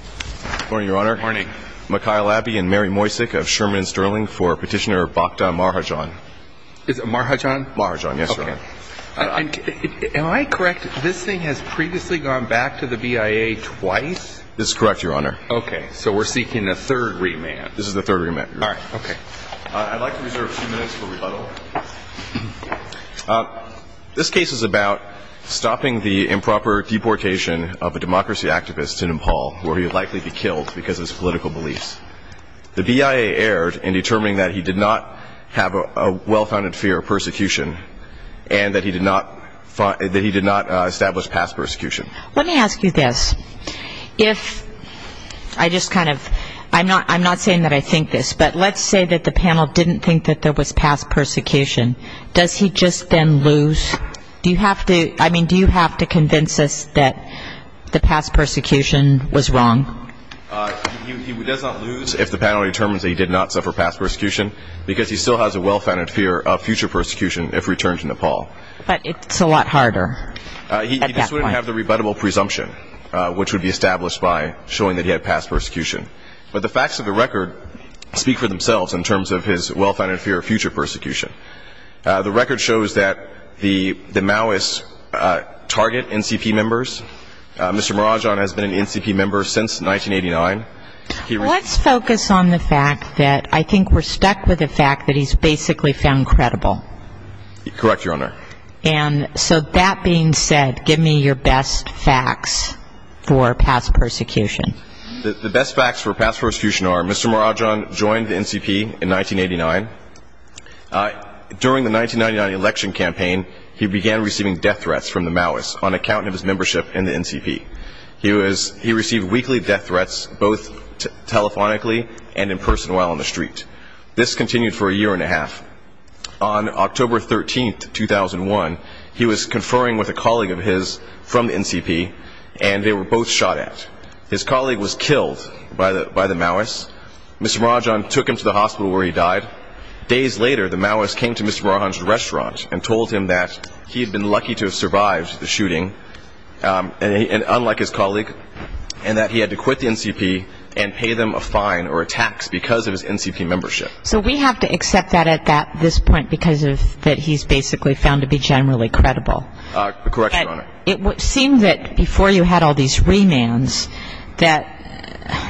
Good morning, Your Honor. Good morning. Mikhail Abbey and Mary Moisik of Sherman and Sterling for Petitioner Bokda Marhajan. Is it Marhajan? Marhajan, yes, Your Honor. Okay. Am I correct, this thing has previously gone back to the BIA twice? That's correct, Your Honor. Okay, so we're seeking a third remand. This is the third remand, Your Honor. All right, okay. I'd like to reserve a few minutes for rebuttal. This case is about stopping the improper deportation of a democracy activist to Nepal, where he would likely be killed because of his political beliefs. The BIA erred in determining that he did not have a well-founded fear of persecution and that he did not establish past persecution. Let me ask you this. I'm not saying that I think this, but let's say that the panel didn't think that there was past persecution. Does he just then lose? Do you have to convince us that the past persecution was wrong? He does not lose if the panel determines that he did not suffer past persecution because he still has a well-founded fear of future persecution if returned to Nepal. But it's a lot harder at that point. He just wouldn't have the rebuttable presumption, which would be established by showing that he had past persecution. But the facts of the record speak for themselves in terms of his well-founded fear of future persecution. The record shows that the Maoists target NCP members. Mr. Marajan has been an NCP member since 1989. Let's focus on the fact that I think we're stuck with the fact that he's basically found credible. Correct, Your Honor. And so that being said, give me your best facts for past persecution. The best facts for past persecution are Mr. Marajan joined the NCP in 1989. During the 1999 election campaign, he began receiving death threats from the Maoists on account of his membership in the NCP. He received weekly death threats both telephonically and in person while on the street. This continued for a year and a half. On October 13, 2001, he was conferring with a colleague of his from the NCP, and they were both shot at. His colleague was killed by the Maoists. Mr. Marajan took him to the hospital where he died. Days later, the Maoists came to Mr. Marajan's restaurant and told him that he had been lucky to have survived the shooting, unlike his colleague, and that he had to quit the NCP and pay them a fine or a tax because of his NCP membership. So we have to accept that at this point because of that he's basically found to be generally credible. Correct, Your Honor. It would seem that before you had all these remands that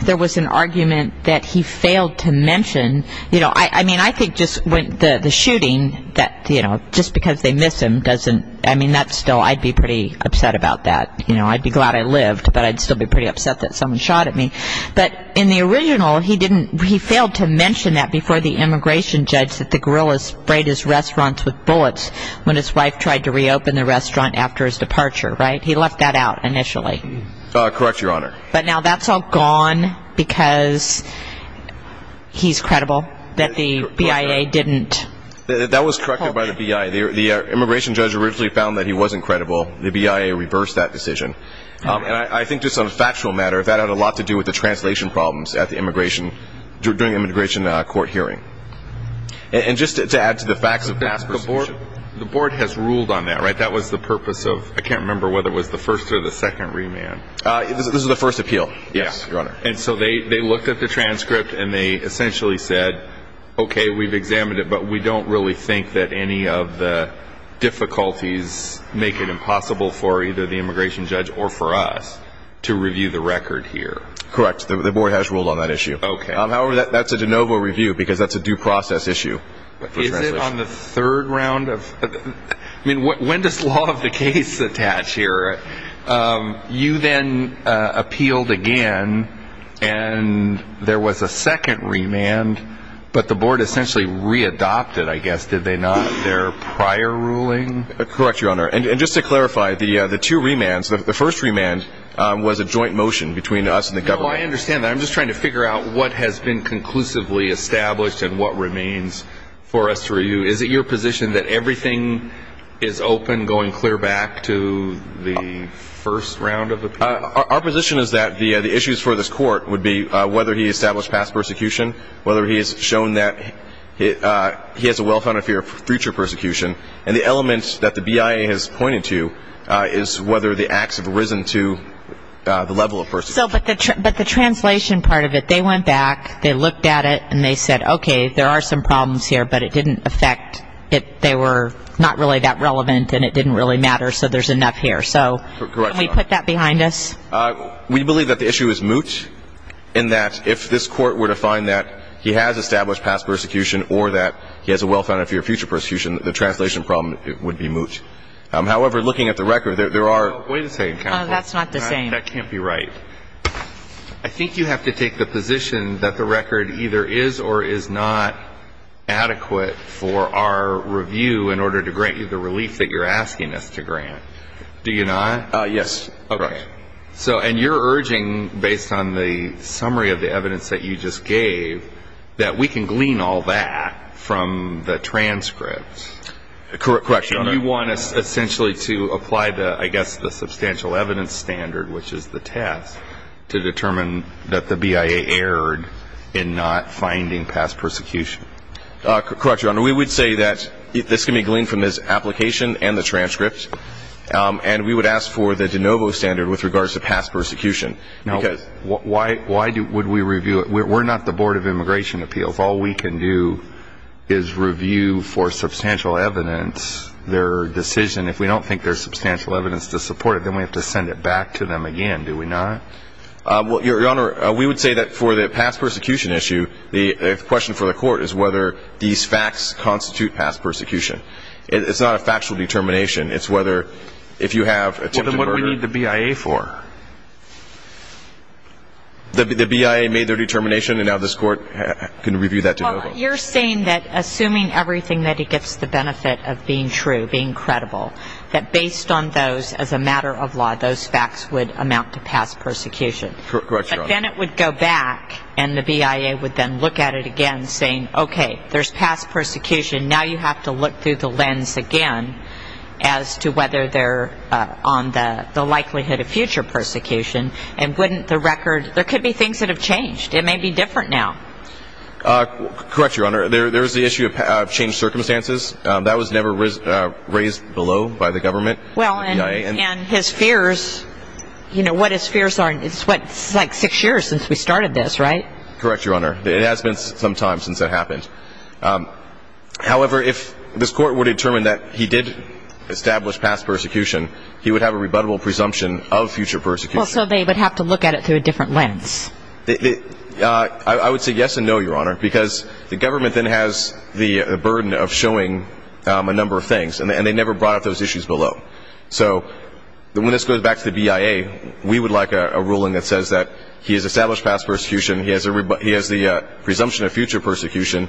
there was an argument that he failed to mention. You know, I mean, I think just when the shooting that, you know, just because they miss him doesn't – I mean, that's still – I'd be pretty upset about that. You know, I'd be glad I lived, but I'd still be pretty upset that someone shot at me. But in the original, he didn't – he failed to mention that before the immigration judge that the guerrillas sprayed his restaurants with bullets when his wife tried to reopen the restaurant after his departure, right? He left that out initially. Correct, Your Honor. But now that's all gone because he's credible, that the BIA didn't – That was corrected by the BIA. The immigration judge originally found that he wasn't credible. The BIA reversed that decision. And I think just on a factual matter, that had a lot to do with the translation problems at the immigration – during the immigration court hearing. And just to add to the facts of past – But the board has ruled on that, right? That was the purpose of – I can't remember whether it was the first or the second remand. This was the first appeal. Yes, Your Honor. And so they looked at the transcript and they essentially said, Okay, we've examined it, but we don't really think that any of the difficulties make it impossible for either the immigration judge or for us to review the record here. Correct. The board has ruled on that issue. Okay. However, that's a de novo review because that's a due process issue. Is it on the third round of – I mean, when does law of the case attach here? You then appealed again and there was a second remand, but the board essentially readopted, I guess, did they not, their prior ruling? Correct, Your Honor. And just to clarify, the two remands – the first remand was a joint motion between us and the government. No, I understand that. I'm just trying to figure out what has been conclusively established and what remains for us to review. Is it your position that everything is open going clear back to the first round of appeals? Our position is that the issues for this court would be whether he established past persecution, whether he has shown that he has a well-founded fear of future persecution, and the element that the BIA has pointed to is whether the acts have risen to the level of persecution. But the translation part of it, they went back, they looked at it, and they said, okay, there are some problems here, but it didn't affect – they were not really that relevant and it didn't really matter, so there's enough here. So can we put that behind us? We believe that the issue is moot in that if this court were to find that he has established past persecution or that he has a well-founded fear of future persecution, the translation problem would be moot. However, looking at the record, there are – Wait a second, counsel. That's not the same. That can't be right. I think you have to take the position that the record either is or is not adequate for our review in order to grant you the relief that you're asking us to grant. Do you not? Yes. Okay. And you're urging, based on the summary of the evidence that you just gave, that we can glean all that from the transcript. Correct. Correct, Your Honor. You want us essentially to apply, I guess, the substantial evidence standard, which is the task, to determine that the BIA erred in not finding past persecution. Correct, Your Honor. We would say that this can be gleaned from this application and the transcript, and we would ask for the de novo standard with regards to past persecution. Now, why would we review it? We're not the Board of Immigration Appeals. If all we can do is review for substantial evidence their decision, if we don't think there's substantial evidence to support it, then we have to send it back to them again, do we not? Well, Your Honor, we would say that for the past persecution issue, the question for the court is whether these facts constitute past persecution. It's not a factual determination. It's whether if you have attempted murder. Then what do we need the BIA for? The BIA made their determination, and now this court can review that de novo. Well, you're saying that assuming everything that it gets the benefit of being true, being credible, that based on those, as a matter of law, those facts would amount to past persecution. Correct, Your Honor. But then it would go back, and the BIA would then look at it again, saying, okay, there's past persecution. Now you have to look through the lens again as to whether they're on the likelihood of future persecution, and wouldn't the record, there could be things that have changed. It may be different now. Correct, Your Honor. There's the issue of changed circumstances. That was never raised below by the government, the BIA. Well, and his fears, you know, what his fears are, it's like six years since we started this, right? Correct, Your Honor. It has been some time since that happened. However, if this court were to determine that he did establish past persecution, he would have a rebuttable presumption of future persecution. Well, so they would have to look at it through a different lens. I would say yes and no, Your Honor, because the government then has the burden of showing a number of things, and they never brought up those issues below. So when this goes back to the BIA, we would like a ruling that says that he has established past persecution, he has the presumption of future persecution,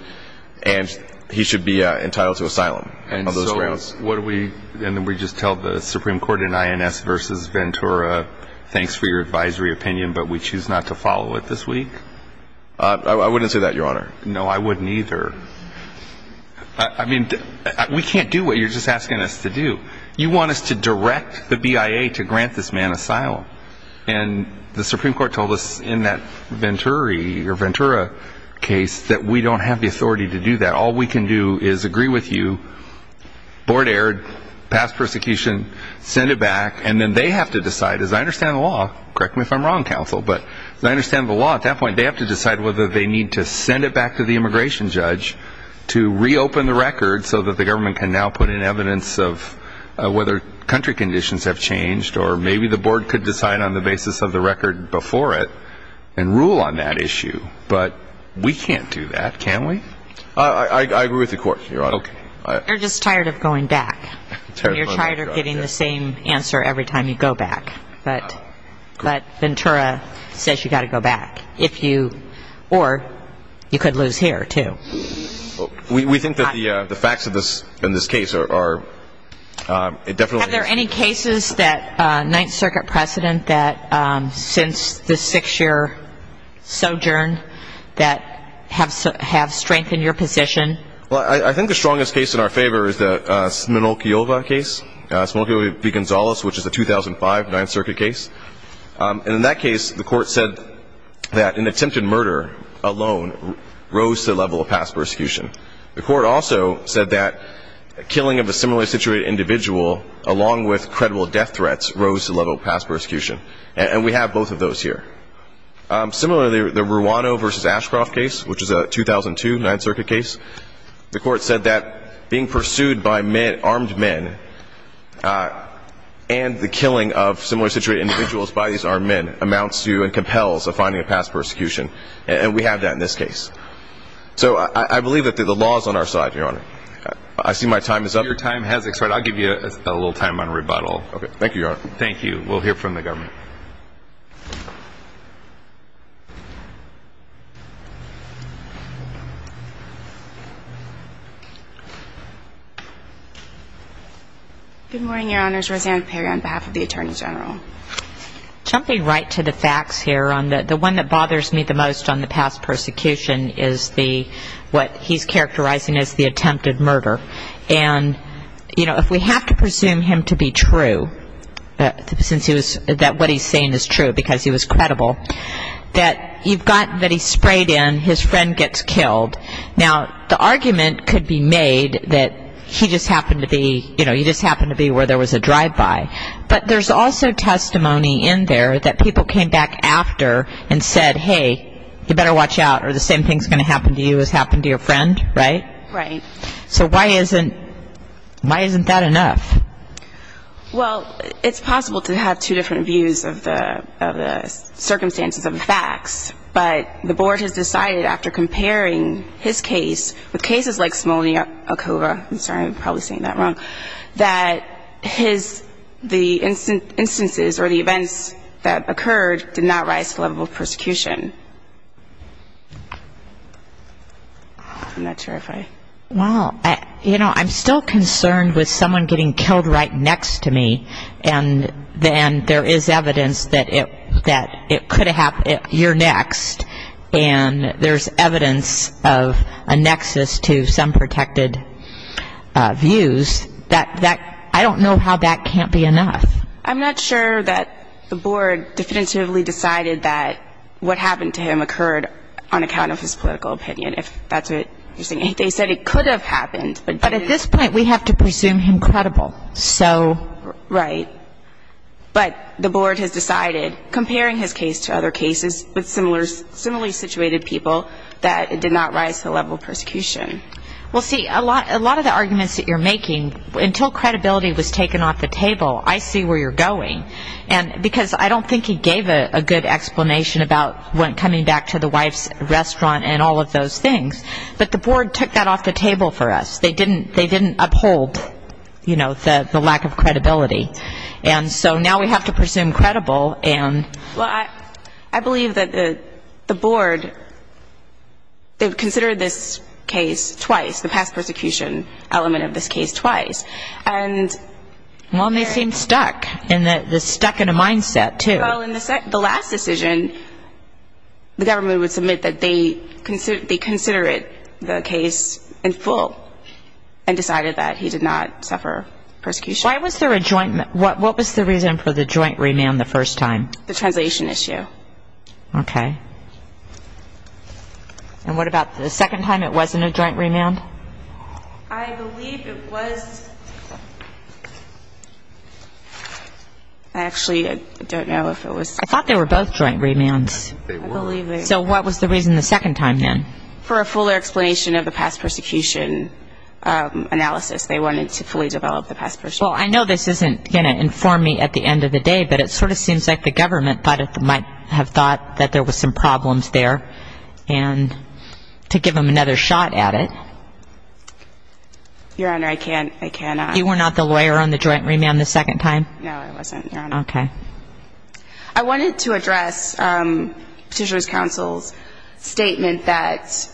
and he should be entitled to asylum. And then we just tell the Supreme Court in INS v. Ventura, thanks for your advisory opinion, but we choose not to follow it this week? I wouldn't say that, Your Honor. No, I wouldn't either. I mean, we can't do what you're just asking us to do. You want us to direct the BIA to grant this man asylum. And the Supreme Court told us in that Venturi or Ventura case that we don't have the authority to do that. All we can do is agree with you, board erred, past persecution, send it back, and then they have to decide, as I understand the law, correct me if I'm wrong, counsel, but as I understand the law at that point, they have to decide whether they need to send it back to the immigration judge to reopen the record so that the government can now put in evidence of whether country conditions have changed or maybe the board could decide on the basis of the record before it and rule on that issue. But we can't do that, can we? I agree with the court, Your Honor. Okay. You're just tired of going back. You're tired of getting the same answer every time you go back. But Ventura says you've got to go back. Or you could lose here, too. We think that the facts in this case are definitely... Have there any cases that Ninth Circuit precedent that since the six-year sojourn that have strengthened your position? Well, I think the strongest case in our favor is the Smolkiova case, Smolkiova v. Gonzalez, which is a 2005 Ninth Circuit case. And in that case, the court said that an attempted murder alone rose to the level of past persecution. The court also said that killing of a similarly situated individual, along with credible death threats, rose to the level of past persecution. And we have both of those here. Similarly, the Ruano v. Ashcroft case, which is a 2002 Ninth Circuit case, the court said that being pursued by armed men and the killing of similarly situated individuals by these armed men amounts to and compels a finding of past persecution. And we have that in this case. So I believe that the law is on our side, Your Honor. I see my time is up. Your time has expired. I'll give you a little time on rebuttal. Thank you, Your Honor. Thank you. We'll hear from the government. Good morning, Your Honors. Rosanna Perry on behalf of the Attorney General. Jumping right to the facts here, the one that bothers me the most on the past persecution is what he's characterizing as the attempted murder. And, you know, if we have to presume him to be true, since what he's saying is true because he was credible, that you've got that he's sprayed in, his friend gets killed. Now, the argument could be made that he just happened to be, you know, he just happened to be where there was a drive-by. But there's also testimony in there that people came back after and said, hey, you better watch out or the same thing's going to happen to you as happened to your friend, right? Right. So why isn't that enough? Well, it's possible to have two different views of the circumstances of the facts. But the Board has decided after comparing his case with cases like Smolny-Okova, I'm sorry, I'm probably saying that wrong, that his the instances or the events that occurred did not rise to the level of persecution. I'm not sure if I. Well, you know, I'm still concerned with someone getting killed right next to me and then there is evidence that it could have happened year next and there's evidence of a nexus to some protected views. I don't know how that can't be enough. I'm not sure that the Board definitively decided that what happened to him occurred on account of his political opinion, if that's what you're saying. They said it could have happened. But at this point we have to presume him credible. So. Right. But the Board has decided, comparing his case to other cases with similarly situated people, that it did not rise to the level of persecution. Well, see, a lot of the arguments that you're making, until credibility was taken off the table, I see where you're going. And because I don't think he gave a good explanation about coming back to the wife's restaurant and all of those things, but the Board took that off the table for us. They didn't uphold, you know, the lack of credibility. And so now we have to presume credible and. Well, I believe that the Board, they've considered this case twice, the past persecution element of this case twice. And. Well, and they seem stuck, stuck in a mindset too. Well, in the last decision, the government would submit that they considered the case in full and decided that he did not suffer persecution. Why was there a joint? What was the reason for the joint remand the first time? The translation issue. Okay. And what about the second time it wasn't a joint remand? I believe it was. I actually don't know if it was. I thought they were both joint remands. I believe they were. So what was the reason the second time then? For a fuller explanation of the past persecution analysis. They wanted to fully develop the past persecution. Well, I know this isn't going to inform me at the end of the day, but it sort of seems like the government might have thought that there was some problems there and to give them another shot at it. Your Honor, I can't. I cannot. You were not the lawyer on the joint remand the second time? No, I wasn't, Your Honor. Okay. I wanted to address Petitioner's Counsel's statement that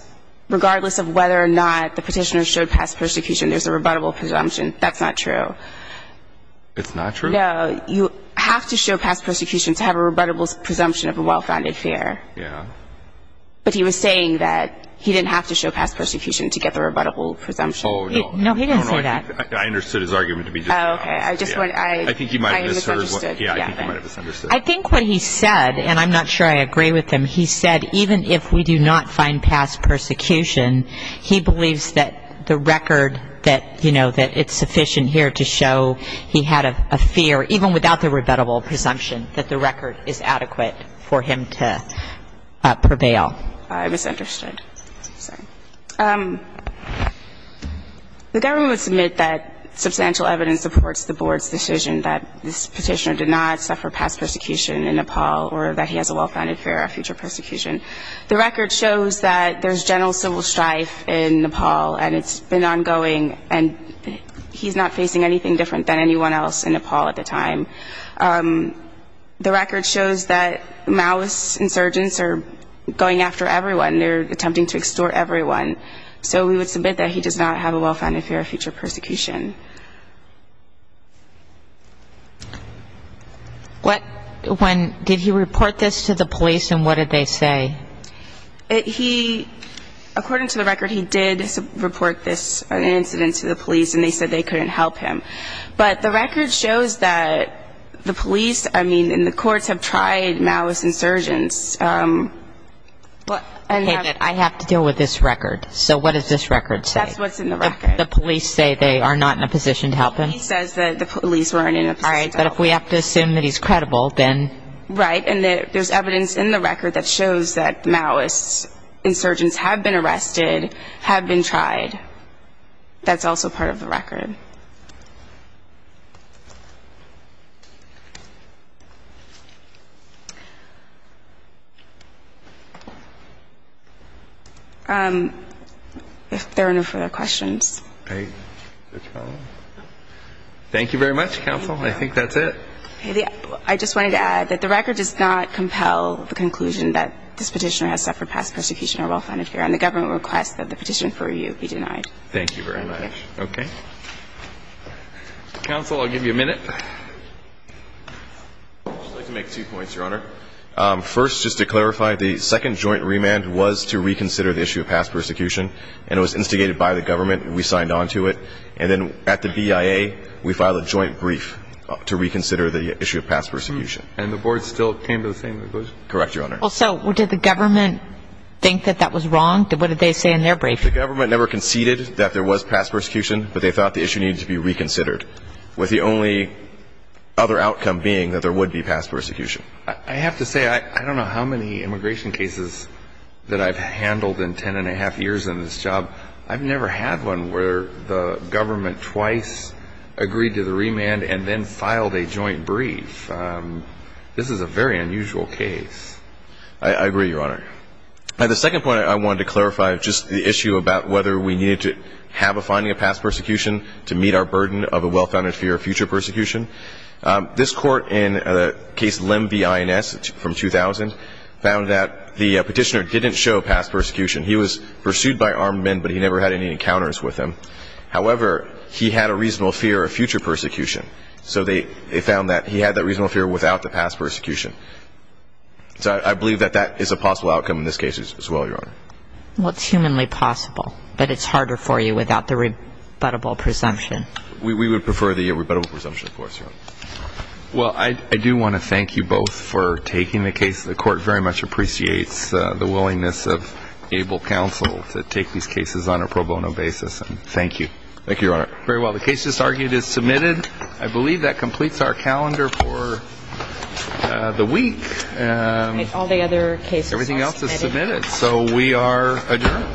regardless of whether or not the petitioner showed past persecution, there's a rebuttable presumption. That's not true. It's not true? No. You have to show past persecution to have a rebuttable presumption of a well-founded fear. Yeah. But he was saying that he didn't have to show past persecution to get the rebuttable presumption. Oh, no. No, he didn't say that. I understood his argument to be just that. Okay. I think he might have misunderstood. Yeah. I think he might have misunderstood. I think what he said, and I'm not sure I agree with him, he said even if we do not find past persecution, he believes that the record that, you know, that it's sufficient here to show he had a fear, even without the rebuttable presumption, that the record is adequate for him to prevail. I misunderstood. Sorry. The government would submit that substantial evidence supports the Board's decision that this petitioner did not suffer past persecution in Nepal or that he has a well-founded fear of future persecution. The record shows that there's general civil strife in Nepal and it's been ongoing and he's not facing anything different than anyone else in Nepal at the time. The record shows that Maoist insurgents are going after everyone. They're attempting to extort everyone. So we would submit that he does not have a well-founded fear of future persecution. When did he report this to the police and what did they say? He, according to the record, he did report this incident to the police and they said they couldn't help him. But the record shows that the police, I mean, and the courts have tried Maoist insurgents. I have to deal with this record. So what does this record say? That's what's in the record. The police say they are not in a position to help him? He says that the police weren't in a position to help him. But if we have to assume that he's credible, then? Right. And there's evidence in the record that shows that Maoist insurgents have been arrested, have been tried. That's also part of the record. If there are no further questions. Thank you very much, counsel. I think that's it. I just wanted to add that the record does not compel the conclusion that this petitioner has suffered past persecution or well-founded fear. And the government requests that the petition for review be denied. Thank you very much. Okay. Counsel, I'll give you a minute. I'd like to make two points, Your Honor. First, just to clarify, the second joint remand was to reconsider the issue of past persecution and it was instigated by the government. We signed on to it. And then at the BIA, we filed a joint brief to reconsider the issue of past persecution. And the board still came to the same conclusion? Correct, Your Honor. Well, so did the government think that that was wrong? What did they say in their brief? The government never conceded that there was past persecution, but they thought the issue needed to be reconsidered, with the only other outcome being that there would be past persecution. I have to say, I don't know how many immigration cases that I've handled in ten and a half years in this job. I've never had one where the government twice agreed to the remand and then filed a joint brief. This is a very unusual case. I agree, Your Honor. The second point I wanted to clarify, just the issue about whether we needed to have a finding of past persecution to meet our burden of a well-founded fear of future persecution. This Court in Case Lem v. INS from 2000 found that the petitioner didn't show past persecution. He was pursued by armed men, but he never had any encounters with them. However, he had a reasonable fear of future persecution. So they found that he had that reasonable fear without the past persecution. So I believe that that is a possible outcome in this case as well, Your Honor. Well, it's humanly possible, but it's harder for you without the rebuttable presumption. We would prefer the rebuttable presumption, of course, Your Honor. Well, I do want to thank you both for taking the case. The Court very much appreciates the willingness of ABLE Counsel to take these cases on a pro bono basis. Thank you. Thank you, Your Honor. Very well. The case that's argued is submitted. I believe that completes our calendar for the week. All the other cases are submitted. Everything else is submitted. So we are adjourned. Thank you. Thank you.